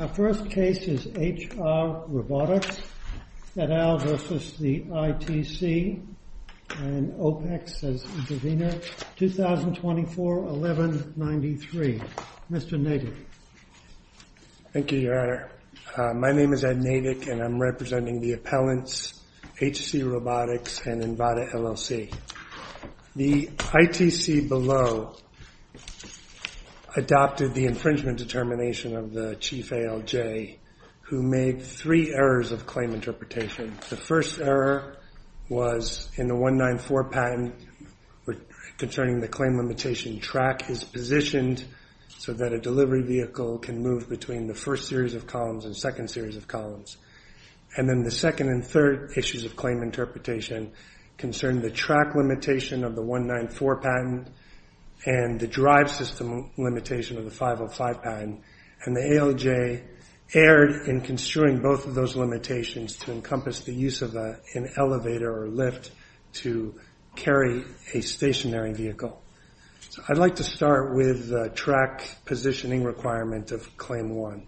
Our first case is HR Robotics et al. v. ITC and OPEX as intervener, 2024-1193. Mr. Navek. Thank you, your honor. My name is Ed Navek and I'm representing the appellants, HC Robotics and Envata LLC. The ITC below adopted the infringement determination of the chief ALJ who made three errors of claim interpretation. The first error was in the 194 patent concerning the claim limitation track is positioned so that a delivery vehicle can move between the first series of columns and second series of columns. And then the second and third issues of claim interpretation concern the track limitation of the 194 patent and the drive system limitation of the 505 patent. And the ALJ erred in construing both of those limitations to encompass the use of an elevator or lift to carry a stationary vehicle. So I'd like to start with the track positioning requirement of claim one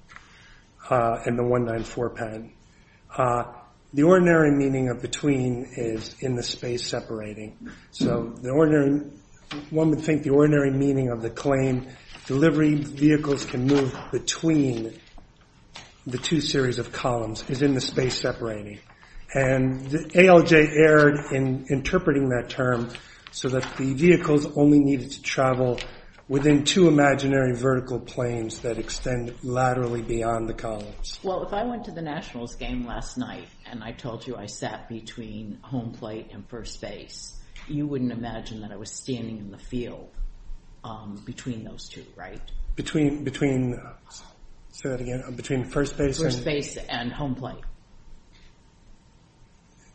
and the 194 patent. The ordinary meaning of between is in the space separating. So one would think the ordinary meaning of the claim delivery vehicles can move between the two series of columns is in the space separating. And the ALJ erred in interpreting that term so that the vehicles only needed to travel within two imaginary vertical planes that extend laterally beyond the columns. Well, if I went to the Nationals game last night and I told you I sat between home plate and first base, you wouldn't imagine that I was standing in the field between those two, right? Between first base? First base and home plate.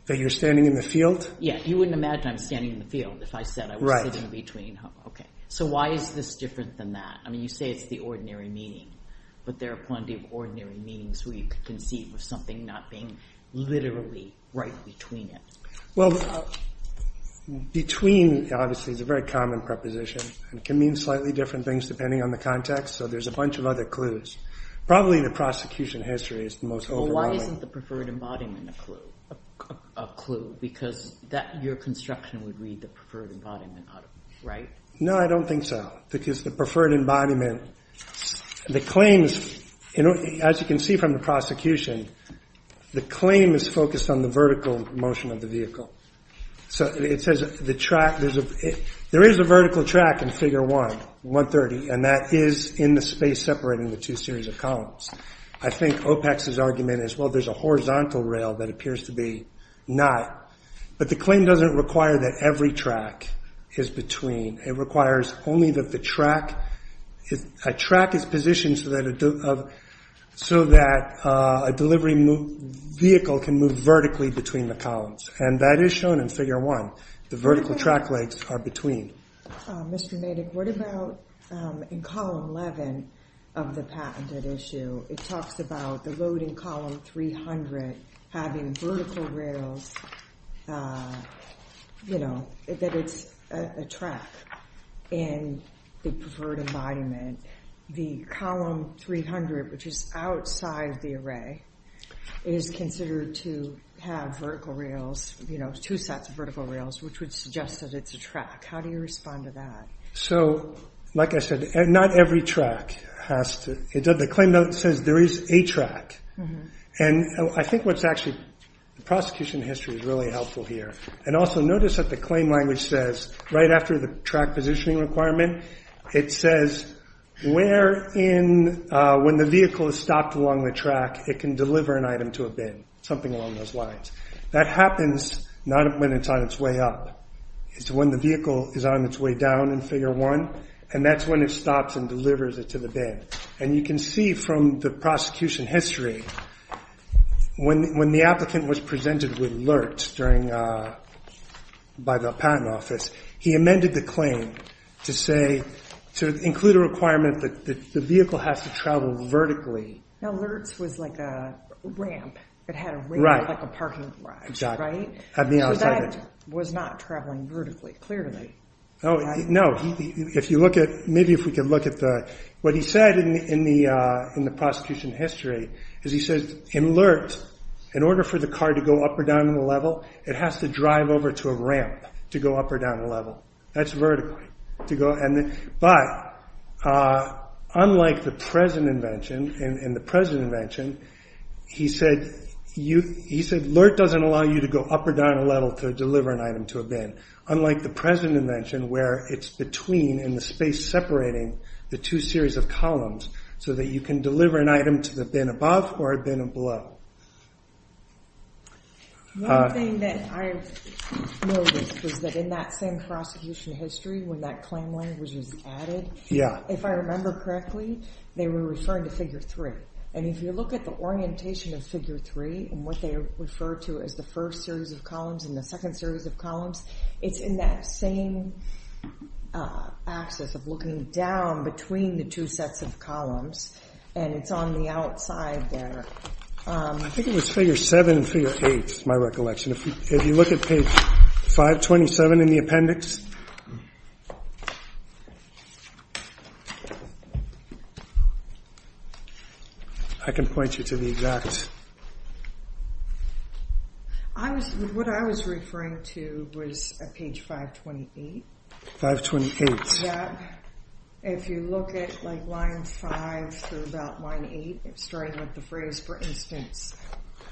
That you're standing in the field? Yeah, you wouldn't imagine I'm standing in the field if I said I was sitting between, okay. So why is this different than that? I mean, you say it's the ordinary meaning, but there are plenty of ordinary meanings where you could conceive of something not being literally right between it. Well, between obviously is a very common preposition and can mean slightly different things depending on the context. So there's a bunch of other clues. Probably the prosecution history is the most overwhelming. Why isn't the preferred embodiment a clue? Because your construction would read the preferred embodiment, right? No, I don't think so. Because the preferred embodiment, the claims, as you can see from the prosecution, the claim is focused on the vertical motion of the vehicle. So it says there is a vertical track in figure one, 130, and that is in the space separating the two series of columns. I think OPEX's argument is, well, there's a horizontal rail that appears to be not, but the claim doesn't require that every track is between. It requires only that the track is positioned so that a delivery vehicle can move vertically between the columns, and that is shown in figure one. The vertical track legs are between. Mr. Nadek, what about in column 11 of the patented issue? It talks about the loading column 300 having vertical rails, you know, that it's a track in the preferred embodiment. The column 300, which is outside the array, is considered to have vertical rails, two sets of vertical rails, which would suggest that it's a track. How do you respond to that? So, like I said, not every track has to, the claim note says there is a track, and I think what's actually, the prosecution history is really helpful here, and also notice that the claim language says, right after the track positioning requirement, it says where in, when the vehicle is stopped along the track, it can deliver an item to a bin, something along those lines. That happens not when it's on its way up. It's when the vehicle is on its way down in figure one, and that's when it stops and delivers it to the bin, and you can see from the prosecution history, when the applicant was presented with LERTS by the patent office, he amended the claim to say, to include a requirement that the vehicle has to travel vertically. Now, LERTS was like a ramp, it had a ramp like a parking garage, right? That was not traveling vertically, clearly. No, if you look at, maybe if we could look at the, what he said in the prosecution history, is he says, in LERTS, in order for the car to go up or down in the level, it has to drive over to a ramp to go up or down a level. That's vertical. But, unlike the present invention, in the present invention, he said, LERTS doesn't allow you to go up or down a level to deliver an item to a bin, unlike the present invention, where it's between, in the space separating, the two series of columns, so that you can deliver an item to the bin above or a bin below. One thing that I've noted is that in that same prosecution history, when that claim language is added, if I remember correctly, they were referring to figure three. And if you look at the orientation of figure three, and what they refer to as the first series of columns and the second series of columns, it's in that same axis of looking down between the two sets of columns, and it's on the outside there. I think it was figure seven and figure eight, my recollection. If you look at page 527 in the appendix, I can point you to the exact... What I was referring to was page 528. 528. If you look at line five through about line eight, starting with the phrase, for instance,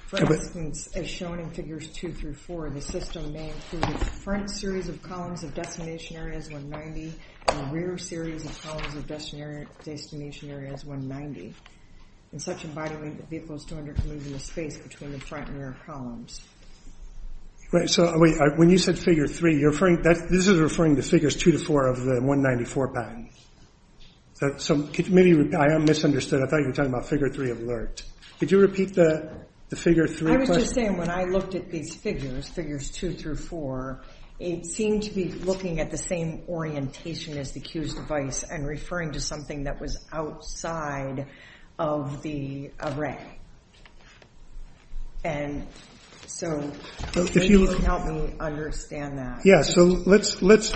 for instance, as shown in figures two through four, the system may include a front series of columns of destination areas 190, and a rear series of columns of destination areas 190. In such a body weight, the vehicle is to move in the space between the front and rear columns. Right, so when you said figure three, this is referring to figures two to four of the 194 bin. So maybe I am misunderstood. I thought you were talking about figure three of LERT. Could you repeat the figure three question? I was just saying, when I looked at these figures, figures two through four, it seemed to be looking at the same orientation as the Q's device, and referring to something that was outside of the array. And so, if you would help me understand that. Yeah, so let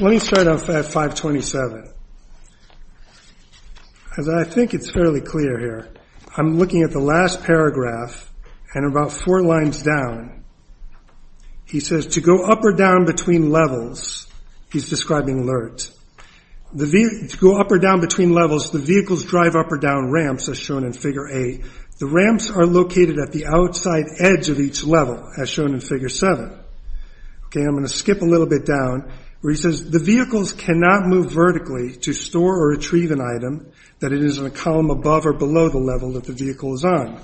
me start off at 527. As I think it's fairly clear here, I'm looking at the last paragraph, and about four lines down. He says, to go up or down between levels, he's describing LERT. To go up or down between levels, the vehicles drive up or down ramps, as shown in figure eight. The ramps are located at the outside edge of each level, as shown in figure seven. Okay, I'm going to skip a little bit down, where he says, the vehicles cannot move vertically to store or retrieve an item that is in a column above or below the level that the vehicle is on.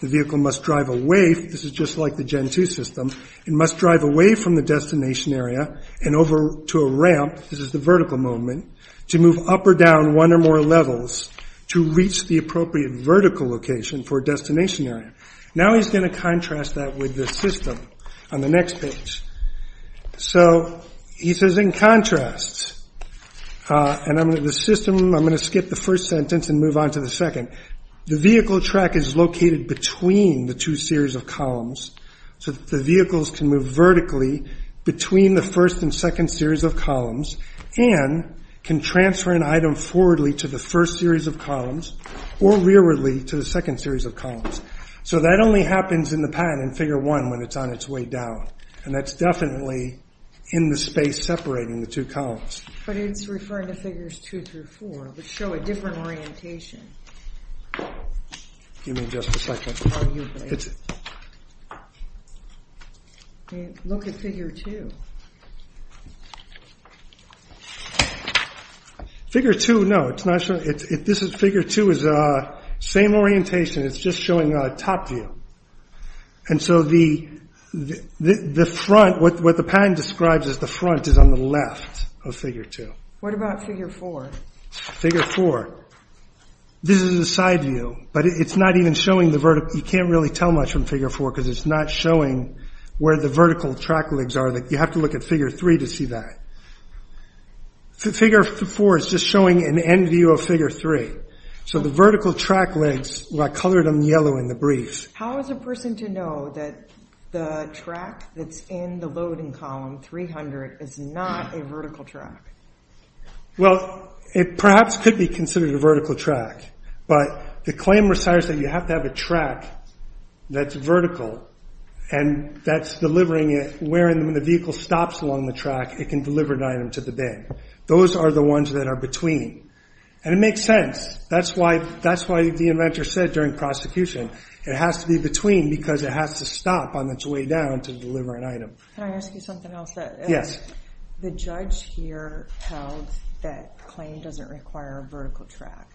The vehicle must drive away, this is just like the gen two system, it must drive away from the destination area, and over to a ramp, this is the vertical movement, to move up or down one or more levels, to reach the appropriate vertical location for a destination area. Now he's going to contrast that with the system, on the next page. So, he says, in contrast, and I'm going to, the system, I'm going to skip the first sentence and move on to the second. The vehicle track is located between the two series of columns, so the vehicles can move vertically between the first and second series of columns, and can transfer an item forwardly to the first series of columns, or rearwardly to the second series of columns. So, that only happens in the patent in figure one, when it's on its way down, and that's definitely in the space separating the two columns. But it's referring to figures two through four, which show a different orientation. Give me just a second. Look at figure two. Figure two, no, it's not showing, this is figure two, it's the same orientation, it's just showing a top view. And so, the front, what the patent describes as the front, is on the left of figure two. What about figure four? Figure four, this is a side view, but it's not even showing the vertical, you can't really tell much from figure four, because it's not showing where the vertical track legs are, you have to look at figure three to see that. Figure four is just showing an end view of figure three, so the vertical track legs, I colored them yellow in the brief. How is a person to know that the track that's in the loading column 300 is not a vertical track? Well, it perhaps could be considered a vertical track, but the claim requires that you have to have a track that's vertical, and that's delivering it where the vehicle stops along the track, it can deliver an item to the bid. Those are the ones that are between, and it makes sense, that's why the inventor said during prosecution, it has to be between, because it has to stop on its way down to deliver an item. Can I ask you something else? Yes. The judge here held that claim doesn't require a vertical track.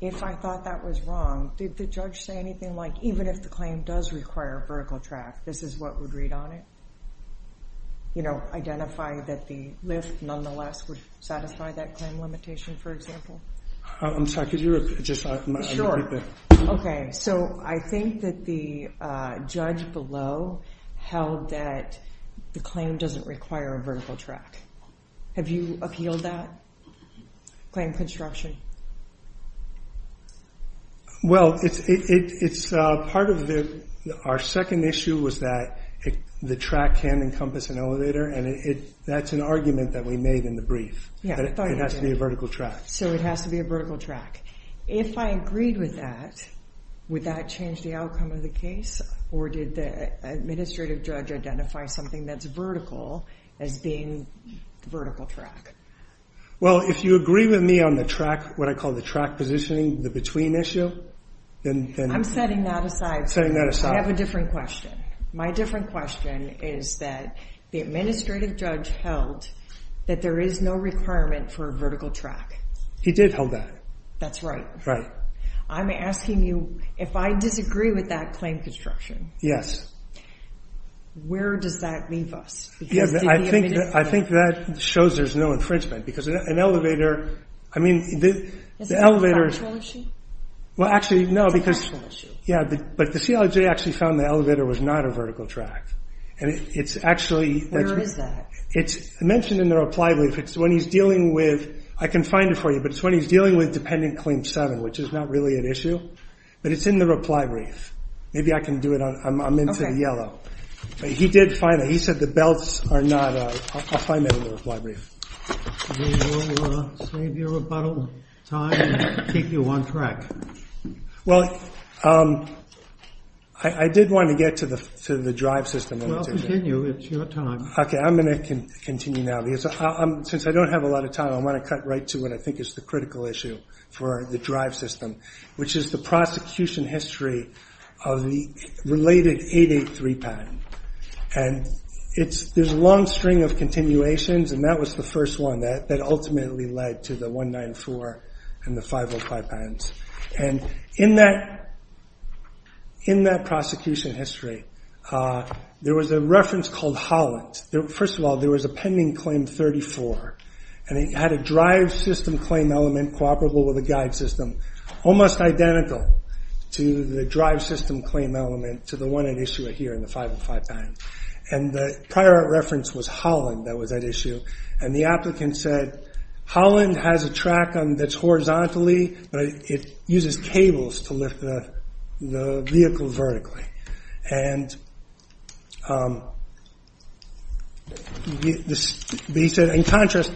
If I thought that was wrong, did the judge say anything like, even if the claim does require a vertical track, this is what would read on it? You know, identify that the list nonetheless would satisfy that claim limitation, for example? I'm sorry, could you repeat that? Sure. Okay, so I think that the judge below held that the claim doesn't require a vertical track. Have you appealed that claim construction? Well, our second issue was that the track can encompass an elevator, and that's an argument that we made in the brief, that it has to be a vertical track. So it has to be a vertical track. If I agreed with that, would that change the outcome of the case, or did the administrative judge identify something that's vertical as being the vertical track? Well, if you agree with me on the track, what I call the track positioning, the between issue, then... I'm setting that aside. Setting that aside. I have a different question. My different question is that the administrative judge held that there is no requirement for a vertical track. He did hold that. That's right. I'm asking you, if I disagree with that claim construction, where does that leave us? I think that shows there's no infringement, because an elevator... I mean, the elevator... Well, actually, no, because... Yeah, but the CLJ actually found the elevator was not a vertical track, and it's actually... Where is that? It's mentioned in the reply brief. It's when he's dealing with Dependent Claim 7, which is not really an issue, but it's in the reply brief. Maybe I can do it on... I'm into the yellow. He did find that. He said the belts are not... I'll find that in the reply brief. Do you want to save your rebuttal time and keep you on track? Well, I did want to get to the drive system. Well, continue. It's your time. Okay, I'm going to continue now, because since I don't have a lot of time, I want to cut right to the critical issue for the drive system, which is the prosecution history of the related 883 patent. And there's a long string of continuations, and that was the first one that ultimately led to the 194 and the 505 patents. And in that prosecution history, there was a reference called Holland. First of all, there was a Pending Claim 34, and it had a drive system claim element cooperable with a guide system, almost identical to the drive system claim element to the one at issue here in the 505 patent. And the prior reference was Holland that was at issue. And the applicant said, Holland has a track that's horizontally, but it uses cables to lift the vehicle vertically. And he said, in contrast,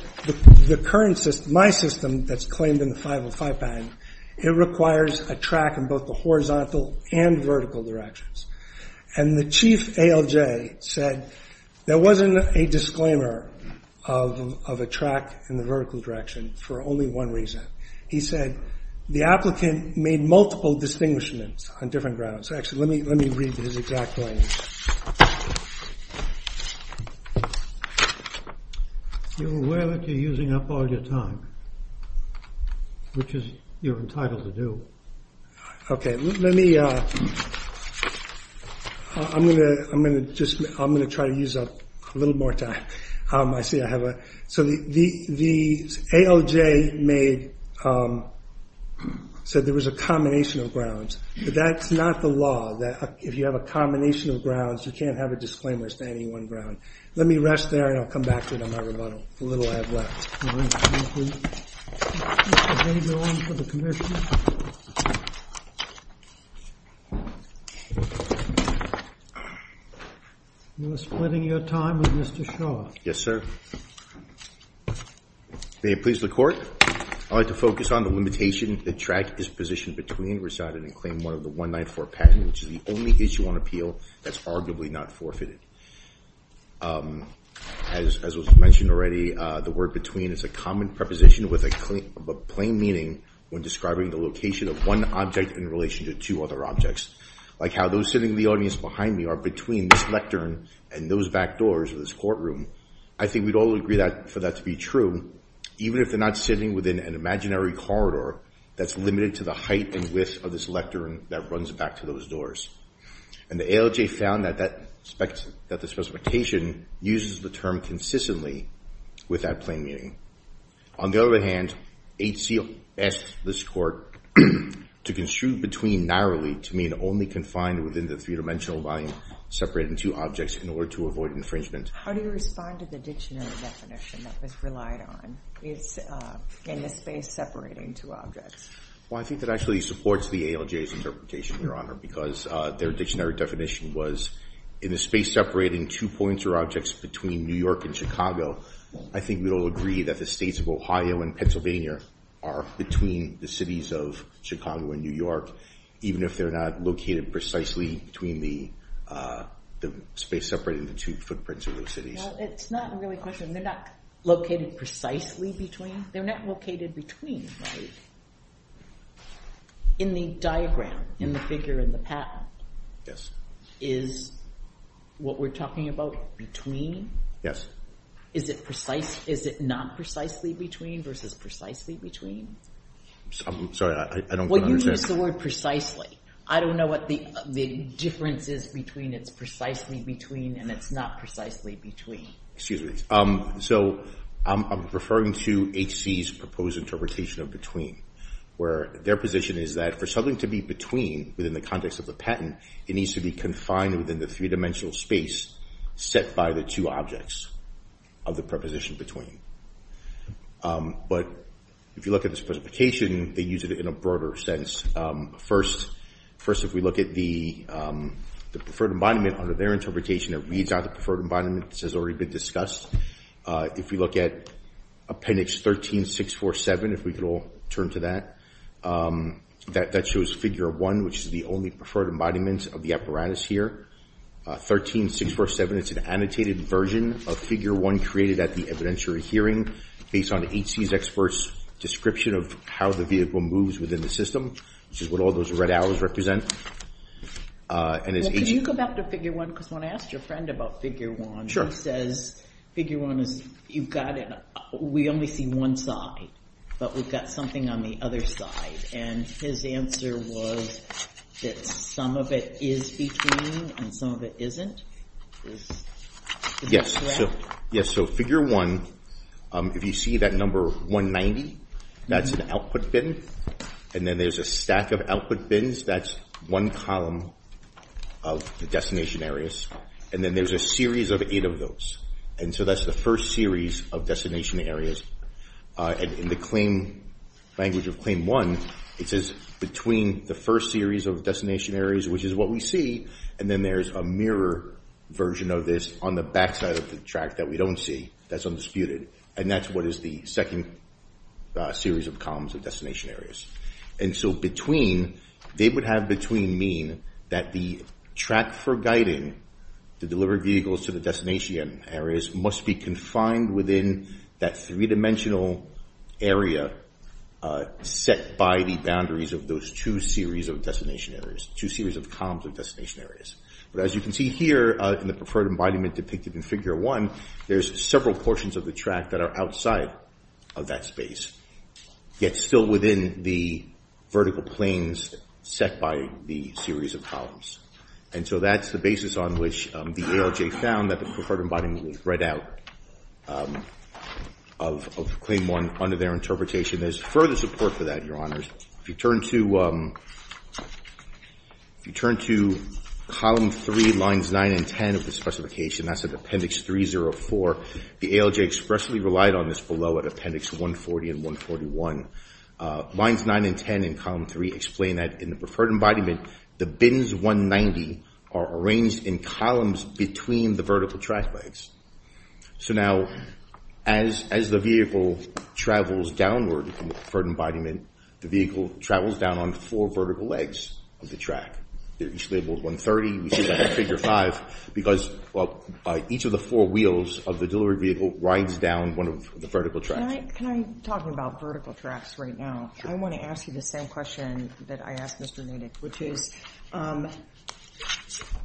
my system that's claimed in the 505 patent, it requires a track in both the horizontal and vertical directions. And the chief ALJ said, there wasn't a disclaimer of a track in the vertical direction for only one reason. He said, the applicant made multiple distinguishments on different grounds. Actually, let me read this exactly. You're aware that you're using up all your time, which is you're entitled to do. Okay, let me, I'm going to, I'm going to just, I'm going to try to use up a little more time. I see I have a, so the ALJ made, said there was a combination of grounds, but that's not the law, that if you have a combination of grounds, you can't have a disclaimer standing one ground. Let me rest there, and I'll come back to it on my rebuttal, the little I have left. All right, thank you. Mr. Hager on for the commission. You're splitting your time with Mr. Shaw. Yes, sir. May it please the court, I'd like to focus on the limitation. The track is positioned between residing and claim one of the 194 patents, which is the only issue on appeal that's arguably not forfeited. As was mentioned already, the word between is a common preposition with a plain meaning when describing the location of one object in relation to two other objects, like how those sitting in the audience behind me are between this lectern and those back doors of this courtroom. I think we'd all agree that for that to be true, even if they're not sitting within an imaginary corridor that's limited to the height and width of this lectern that runs back to those doors. And the ALJ found that the specification uses the term consistently with that plain meaning. On the other hand, HC asked this court to construe between narrowly to mean only confined within the three-dimensional volume separated in two objects in order to avoid infringement. How do you respond to the dictionary definition that was relied on? It's in the space separating two objects. Well, I think that actually supports the ALJ's interpretation, Your Honor, because their dictionary definition was in the space separating two points or objects between New York and Chicago. I think we'd all agree that the states of Ohio and Pennsylvania are between the cities of Chicago and New York, even if they're not located precisely between the space separating the two footprints of those cities. Well, it's not really a question. They're not located precisely between. They're not located between, right? In the diagram, in the figure in the patent, is what we're talking about between? Yes. Is it precise? Is it not precisely between versus precisely between? I'm sorry, I don't understand. Well, you use the word precisely. I don't know what the difference is between it's precisely between and it's not precisely between. Excuse me. So I'm referring to H.C.'s proposed interpretation of between, where their position is that for something to be between within the context of the patent, it needs to be confined within the three-dimensional space set by the two objects of the preposition between. But if you look at the specification, they use it in a broader sense. First, if we look at the preferred embodiment under their interpretation, it reads out the preferred embodiment. This has already been discussed. If we look at appendix 13-647, if we could all turn to that, that shows figure one, which is the only preferred embodiment of the apparatus here. 13-647, it's an annotated version of figure one created at the evidentiary hearing based on H.C.'s experts' description of how the vehicle moves within the system, which is what all those red arrows represent. And as H.C. Well, can you go back to figure one? Because when I asked your friend about figure one, he says figure one is, you've got it, we only see one side, but we've got something on the other side. And his answer was that some of it is between and some of it isn't. Is that correct? Yes. So figure one, if you see that number 190, that's an output bin. And then there's a stack of output bins. That's one column of the destination areas. And then there's a series of eight of those. And so that's the first series of destination areas. And in the claim, language of claim one, it says between the first series of destination areas, which is what we see, and then there's a mirror version of this on the backside of the track that we don't see, that's undisputed. And that's what is the second series of columns of destination areas. And so between, they would have between mean that the track for guiding the delivered vehicles to the destination areas must be confined within that three-dimensional area set by the boundaries of those two series of destination areas, two series of columns of destination areas. But as you can see here in preferred embodiment depicted in figure one, there's several portions of the track that are outside of that space, yet still within the vertical planes set by the series of columns. And so that's the basis on which the ALJ found that the preferred embodiment was read out of claim one under their interpretation. There's further support for that, Your Honors. If you turn to Column 3, Lines 9 and 10 of the specification, that's at Appendix 304, the ALJ expressly relied on this below at Appendix 140 and 141. Lines 9 and 10 in Column 3 explain that in the preferred embodiment, the bins 190 are arranged in columns between the track legs. So now as the vehicle travels downward in preferred embodiment, the vehicle travels down on four vertical legs of the track. They're each labeled 130, which is like a figure five, because each of the four wheels of the delivery vehicle rides down one of the vertical tracks. Can I talk about vertical tracks right now? I want to ask you the same question that I asked Mr. Noonan, which is,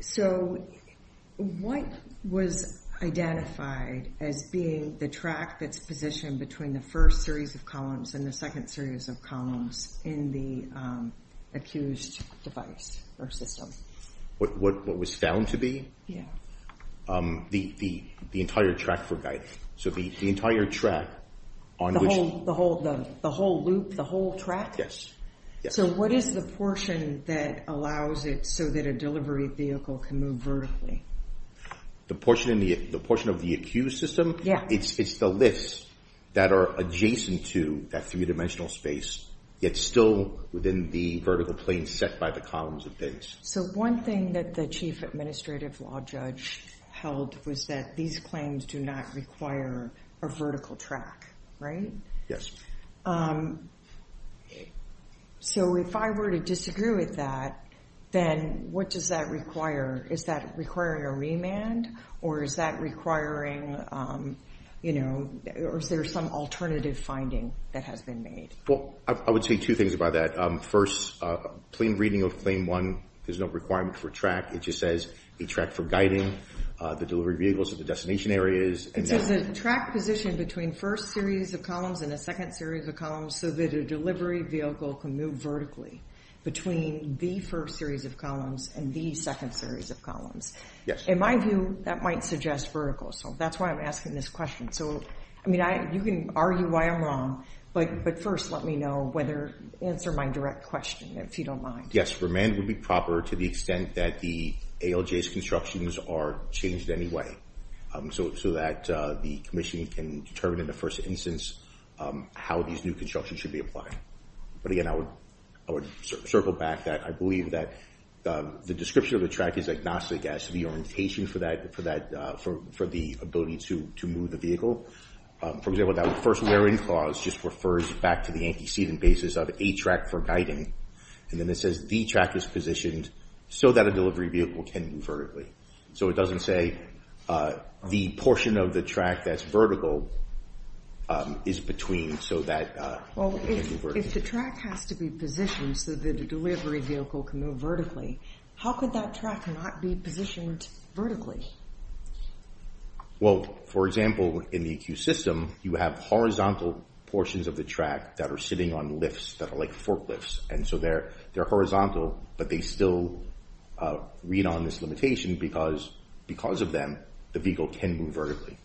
so what was identified as being the track that's positioned between the first series of columns and the second series of columns in the accused device or system? What was found to be? Yeah. The entire track for guidance. So the entire track on which... The whole loop, the whole track? Yes. So what is the portion that allows it so that a delivery vehicle can move vertically? The portion of the accused system? Yeah. It's the lifts that are adjacent to that three-dimensional space, yet still within the vertical plane set by the columns of bins. So one thing that the Chief Administrative Law Judge held was that these claims do not require a vertical track, right? Yes. So if I were to disagree with that, then what does that require? Is that requiring a remand, or is that requiring... Or is there some alternative finding that has been made? Well, I would say two things about that. First, plain reading of Claim 1, there's no requirement for track. It just says a track for guiding the delivery vehicles at the destination areas. It says a track positioned between first series of columns and a second series of columns so that a delivery vehicle can move vertically between the first series of columns and the second series of columns. Yes. In my view, that might suggest vertical. So that's why I'm asking this question. So, I mean, you can argue why I'm wrong, but first let me know whether... Answer my direct question, if you don't mind. Yes, remand would be proper to the extent that the ALJ's constructions are changed anyway, so that the commission can determine in the first instance how these new constructions should be applied. But again, I would circle back that I believe that the description of the track is agnostic as to the orientation for the ability to move the vehicle. For example, that first basis of a track for guiding, and then it says the track is positioned so that a delivery vehicle can move vertically. So it doesn't say the portion of the track that's vertical is between so that... If the track has to be positioned so that a delivery vehicle can move vertically, how could that track not be positioned vertically? Well, for example, in the EQ system, you have horizontal portions of the track that are sitting on lifts that are like forklifts. And so they're horizontal, but they still read on this limitation because of them, the vehicle can move vertically.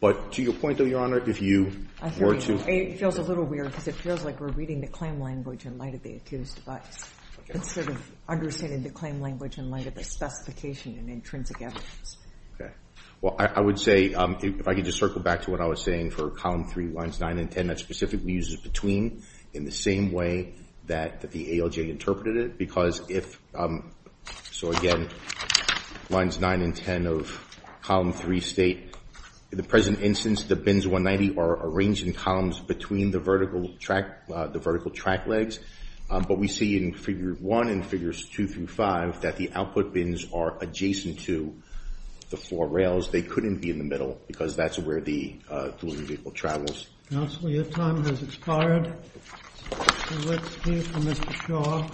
But to your point, though, Your Honor, if you were to... It feels a little weird because it feels like we're reading the claim language in light of the accused device, instead of understanding the claim language in light of the specification and intrinsic evidence. Okay. Well, I would say, if I could just circle back to what I was saying for Column 3, Lines 9 and 10, that specifically uses between in the same way that the ALJ interpreted it, because if... So again, Lines 9 and 10 of Column 3 state, in the present instance, the bins 190 are arranged in columns between the vertical track legs. But we see in Figure 1 and Figures 2 through 5 that the output bins are adjacent to the floor rails. They couldn't be in the middle because that's where the delivery vehicle travels. Counselor, your time has expired. Let's hear from Mr. Shaw.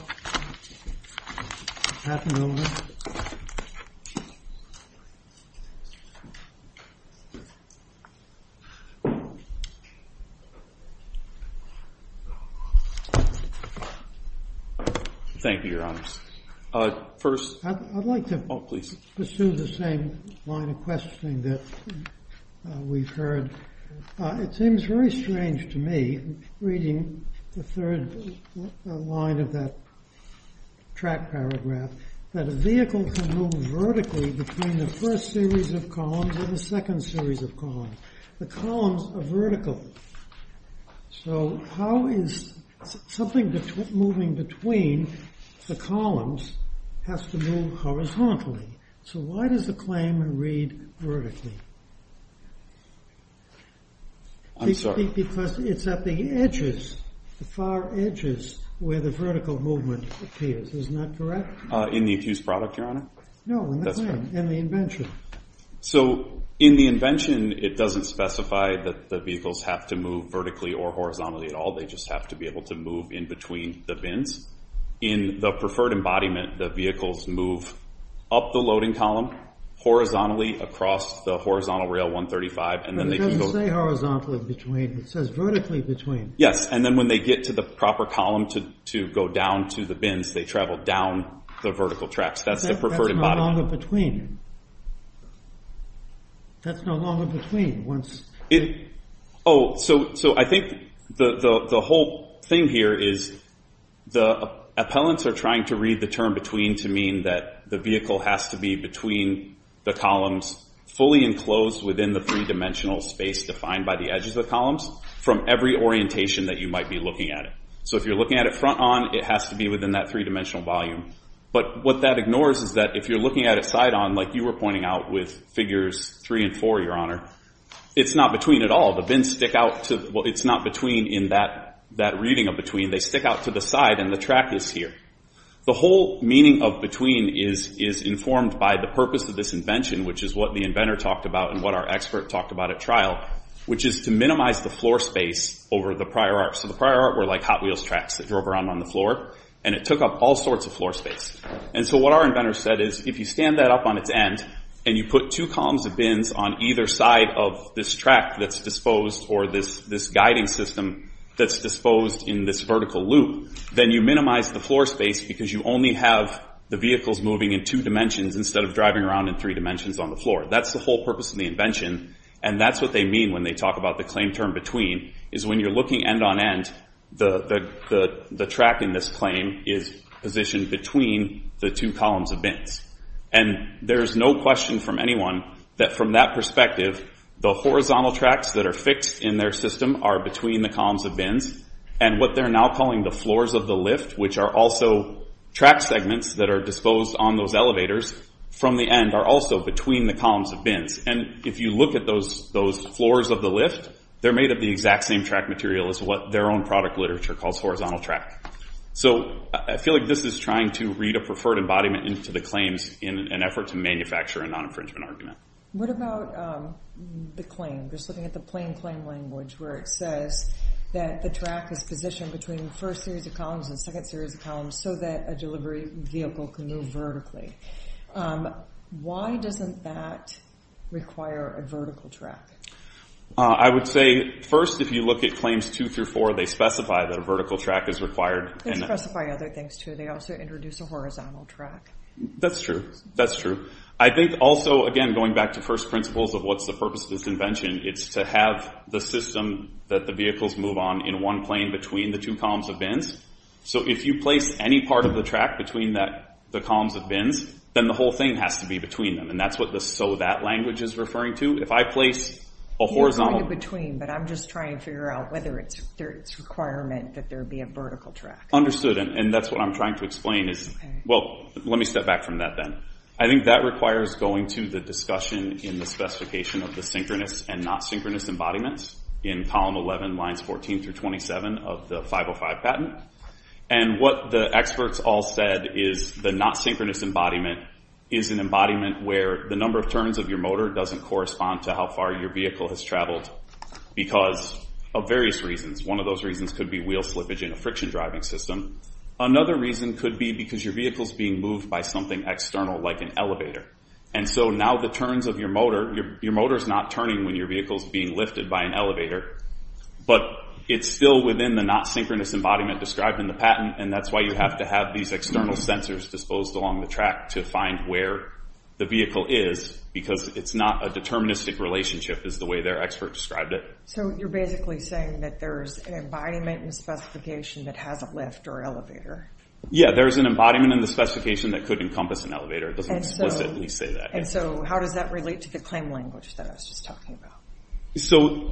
Thank you, Your Honor. First... I'd like to... Oh, please. Pursue the same line of questioning that we've heard. It seems very strange to me, reading the third line of that track paragraph, that a vehicle can move vertically between the first series of columns and the second series of columns. The columns are vertical. So how is... Something moving between the columns has to move horizontally. So why does the claim read vertically? I'm sorry. Because it's at the edges, the far edges, where the vertical movement appears. Isn't that correct? In the accused product, Your Honor? No, in the claim, in the invention. So in the invention, it doesn't specify that the vehicles have to move vertically or horizontally at all. They just have to be able to move in between the bins. In the preferred embodiment, the vehicles move up the loading column, horizontally across the horizontal rail 135... But it doesn't say horizontally between. It says vertically between. Yes, and then when they get to the proper column to go down to the bins, they travel down the vertical tracks. That's no longer between. That's no longer between. So I think the whole thing here is the appellants are trying to read the term between to mean that the vehicle has to be between the columns, fully enclosed within the three-dimensional space defined by the edges of the columns, from every orientation that you might be looking at it. So if you're looking at it front on, it has to be within that three-dimensional volume. But what that ignores is that if you're looking at it side on, like you were pointing out with figures three and four, Your Honor, it's not between at all. The bins stick out to... Well, it's not between in that reading of between. They stick out to the side and the track is here. The whole meaning of between is informed by the purpose of this invention, which is what the inventor talked about and what our expert talked about at trial, which is to minimize the floor space over the prior art. So the prior art were like Hot Wheels tracks that drove around on the floor and it took up all sorts of floor space. So what our inventor said is if you stand that up on its end and you put two columns of bins on either side of this track that's disposed or this guiding system that's disposed in this vertical loop, then you minimize the floor space because you only have the vehicles moving in two dimensions instead of driving around in three dimensions on the floor. That's the whole purpose of the invention and that's what they mean when they talk about the claim term between, is when you're looking end-on-end, the track in this claim is positioned between the two columns of bins. And there's no question from anyone that from that perspective, the horizontal tracks that are fixed in their system are between the columns of bins and what they're now calling the floors of the lift, which are also track segments that are disposed on those elevators from the end are also between the columns of bins. And if you look at those floors of the lift, they're made of the exact same track material as what their own product literature calls horizontal track. So I feel like this is trying to read a preferred embodiment into the claims in an effort to manufacture a non-infringement argument. What about the claim, just looking at the plain claim language where it says that the track is positioned between the first series of columns and second series of columns so that a delivery vehicle can move vertically. Why doesn't that require a vertical track? I would say first, if you look at claims two through four, they specify that a vertical track is required. They specify other things too. They also introduce a horizontal track. That's true. That's true. I think also, again, going back to first principles of what's the purpose of this invention, it's to have the system that the vehicles move on in one plane between the two columns of bins. So if you place any part of the track between the columns of bins, then the whole thing has to be between them. That's what the so that language is referring to. If I place a horizontal... You're going to between, but I'm just trying to figure out whether it's a requirement that there be a vertical track. Understood. That's what I'm trying to explain. Let me step back from that then. I think that requires going to the discussion in the specification of the synchronous and not synchronous embodiments in column 11, lines 14 through 27 of the 505 patent. What the experts all said is the not synchronous embodiment is an embodiment where the number of turns of your motor doesn't correspond to how far your vehicle has traveled because of various reasons. One of those reasons could be wheel slippage in a friction driving system. Another reason could be because your vehicle's being moved by something external like an elevator. Now the turns of your motor, your motor's not turning when your vehicle's being lifted by an the patent. That's why you have to have these external sensors disposed along the track to find where the vehicle is because it's not a deterministic relationship is the way their expert described it. You're basically saying that there's an embodiment in the specification that has a lift or elevator? Yeah, there's an embodiment in the specification that could encompass an elevator. It doesn't explicitly say that. How does that relate to the claim language that I was just talking about?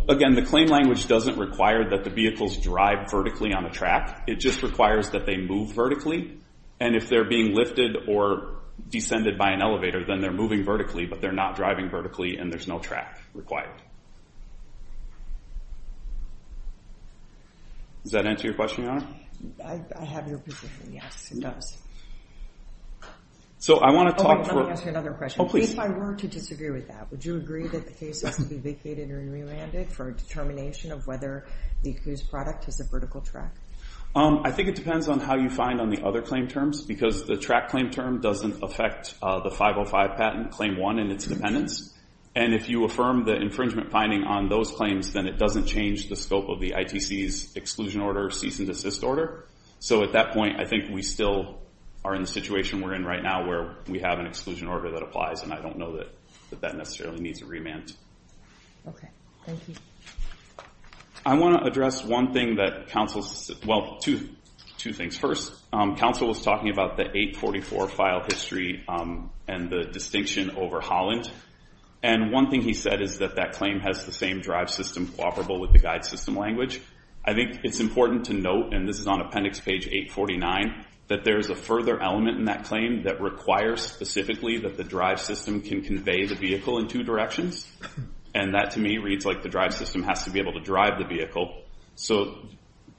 Again, the claim language doesn't require that the vehicles drive vertically on the just requires that they move vertically and if they're being lifted or descended by an elevator then they're moving vertically but they're not driving vertically and there's no track required. Does that answer your question, Your Honor? I have your position. Yes, it does. So I want to talk... Let me ask you another question. If I were to disagree with that, would you agree that the case has to be vacated or re-randed for a determination of whether the accused product is a vertical track? I think it depends on how you find on the other claim terms because the track claim term doesn't affect the 505 patent claim 1 and its dependence and if you affirm the infringement finding on those claims then it doesn't change the scope of the ITC's exclusion order cease and desist order. So at that point I think we still are in the situation we're in right now where we have an exclusion order that applies and I don't know that that necessarily needs a remand. Okay, thank you. I want to address one thing that counsel... Well, two things. First, counsel was talking about the 844 file history and the distinction over Holland and one thing he said is that that claim has the same drive system cooperable with the guide system language. I think it's important to note and this is on appendix page 849 that there's a further element in that claim that requires specifically that the drive system can convey the vehicle in two directions and that to me reads like the drive system has to be able to drive the vehicle. So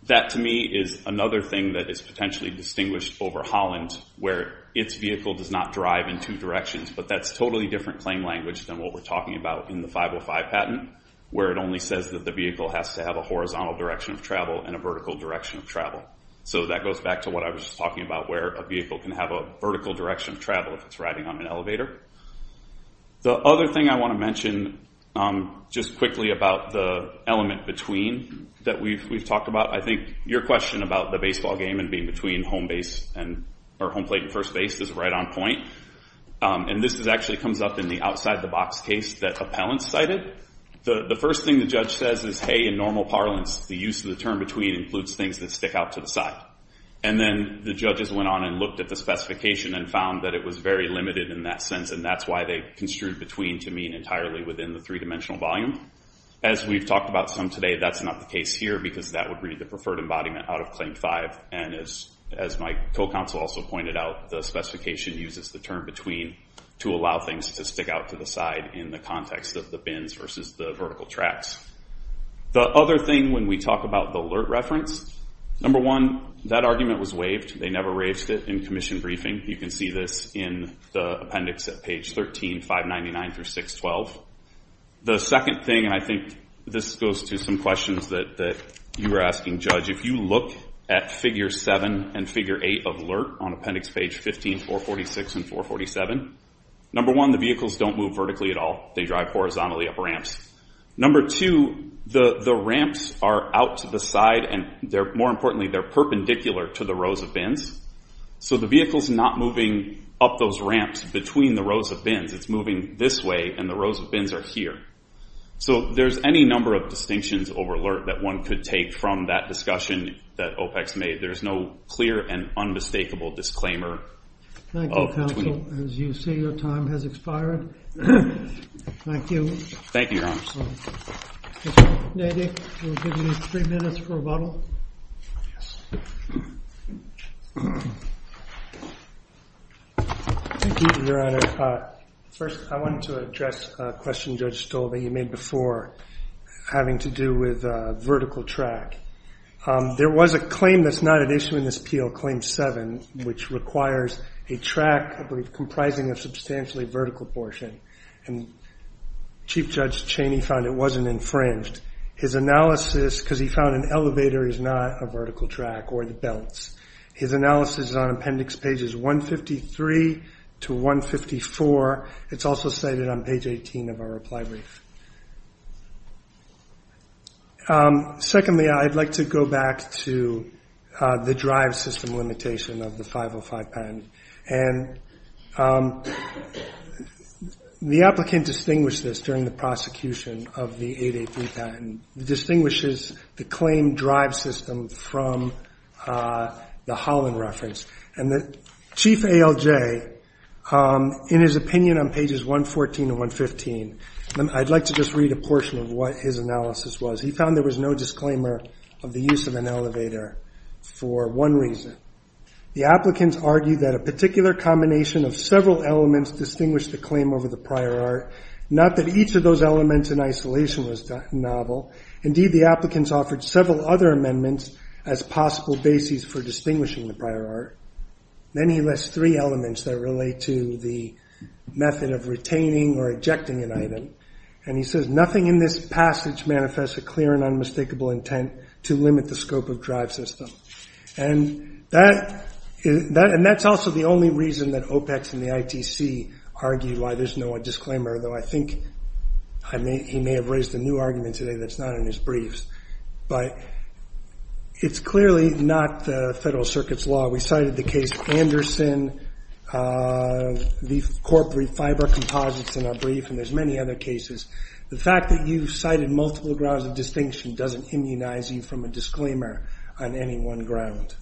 that to me is another thing that is potentially distinguished over Holland where its vehicle does not drive in two directions but that's totally different claim language than what we're talking about in the 505 patent where it only says that the vehicle has to have a horizontal direction of travel and a vertical direction of travel. So that goes back to what I was just talking about where a vehicle can have a vertical direction of travel if it's riding on an elevator. The other thing I want to mention just quickly about the element between that we've talked about, I think your question about the baseball game and being between home base and or home plate and first base is right on point and this is actually comes up in the outside the box case that appellants cited. The first thing the judge says is hey in normal parlance the use of the term between includes things that stick out to the side and then the judges went on and found that it was very limited in that sense and that's why they construed between to mean entirely within the three-dimensional volume. As we've talked about some today that's not the case here because that would read the preferred embodiment out of claim five and as as my co-counsel also pointed out the specification uses the term between to allow things to stick out to the side in the context of the bins versus the vertical tracks. The other thing when we talk about the alert reference, number one that argument was waived they never raised it in commission briefing you can see this in the appendix at page 13, 599 through 612. The second thing and I think this goes to some questions that that you were asking judge if you look at figure seven and figure eight of alert on appendix page 15, 446 and 447, number one the vehicles don't move vertically at all they drive horizontally up ramps. Number two the the ramps are out to the side and they're more importantly they're perpendicular to the rows of bins so the vehicle's not moving up those ramps between the rows of bins it's moving this way and the rows of bins are here. So there's any number of distinctions over alert that one could take from that discussion that OPEX made there's no clear and unmistakable disclaimer. Thank you counsel as you see your time has expired. Thank you. Thank you your honor. Mr. Nedy we'll give you three minutes for rebuttal. Thank you your honor. First I wanted to address a question judge stole that you made before having to do with vertical track. There was a claim that's not an issue in this PL claim seven which requires a track comprising of substantially vertical portion and chief judge Cheney found it wasn't infringed. His analysis because he found an elevator is not a vertical track or the belts. His analysis on appendix pages 153 to 154 it's also stated on page 18 of our reply brief. Secondly, I'd like to go back to the drive system limitation of the 505 patent and the applicant distinguished this during the prosecution of the 883 patent. It distinguishes the claim drive system from the Holland reference and the chief ALJ in his opinion on pages 114 and 115. I'd like to just read a portion of what his analysis was. He found there was no disclaimer of the use of an elevator for one reason. The applicants argued that a particular combination of several elements distinguish the claim over the prior art. Not that each of those elements in isolation was novel. Indeed the applicants offered several other amendments as possible bases for distinguishing the prior art. Then he lists three elements that relate to the method of retaining or ejecting an item. He says nothing in this passage manifests a clear and unmistakable intent to limit the scope of drive system. That's also the only reason that OPEX and the ITC argued why there's no a disclaimer. Though I think he may have raised a new argument today that's not in his briefs. It's clearly not the federal circuit's law. We cited the case Anderson, the corporate fiber composites in our brief and there's many other cases. The fact that you've cited multiple grounds of distinction doesn't immunize you from a disclaimer on any one ground.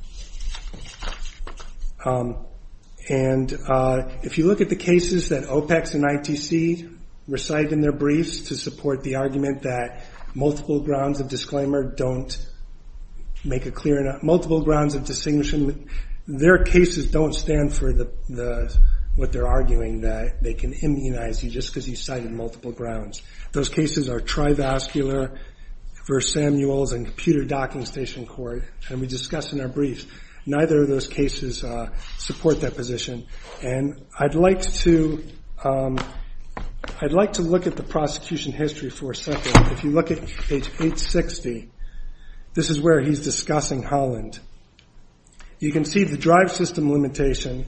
If you look at the cases that OPEX and ITC recited in their briefs to support the argument that multiple grounds of disclaimer don't make a clear multiple grounds of distinction their cases don't stand for the what they're arguing that they can immunize you just because he cited multiple grounds. Those cases are trivascular versus Samuel's and computer docking station court and we discussed in our briefs neither of those cases support that position and I'd like to look at the prosecution history for a second. If you look at page 860 this is where he's discussing Holland. You can see the drive system limitation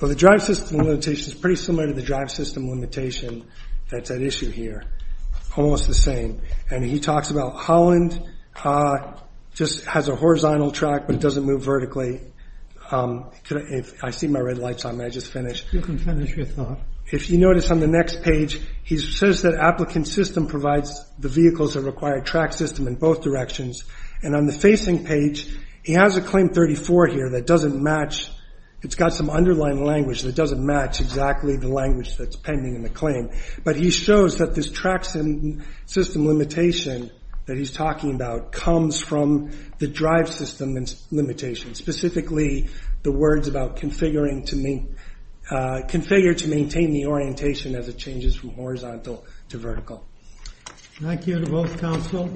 well the drive system limitation is pretty similar to the drive system limitation that's at issue here. Almost the same and he talks about Holland just has a horizontal track but it doesn't move vertically. I see my red lights on may I just finish? You can finish your thought. If you notice on the next page he says that applicant system provides the vehicles that require track system in both directions and on the facing page he has a claim 34 here that doesn't match it's got some underlying language that doesn't match exactly the language that's pending in the claim but he shows that this track system limitation that he's talking about comes from the drive system and limitation specifically the words about configuring to configure to maintain the orientation as it changes from horizontal to vertical. Thank you to both counsel.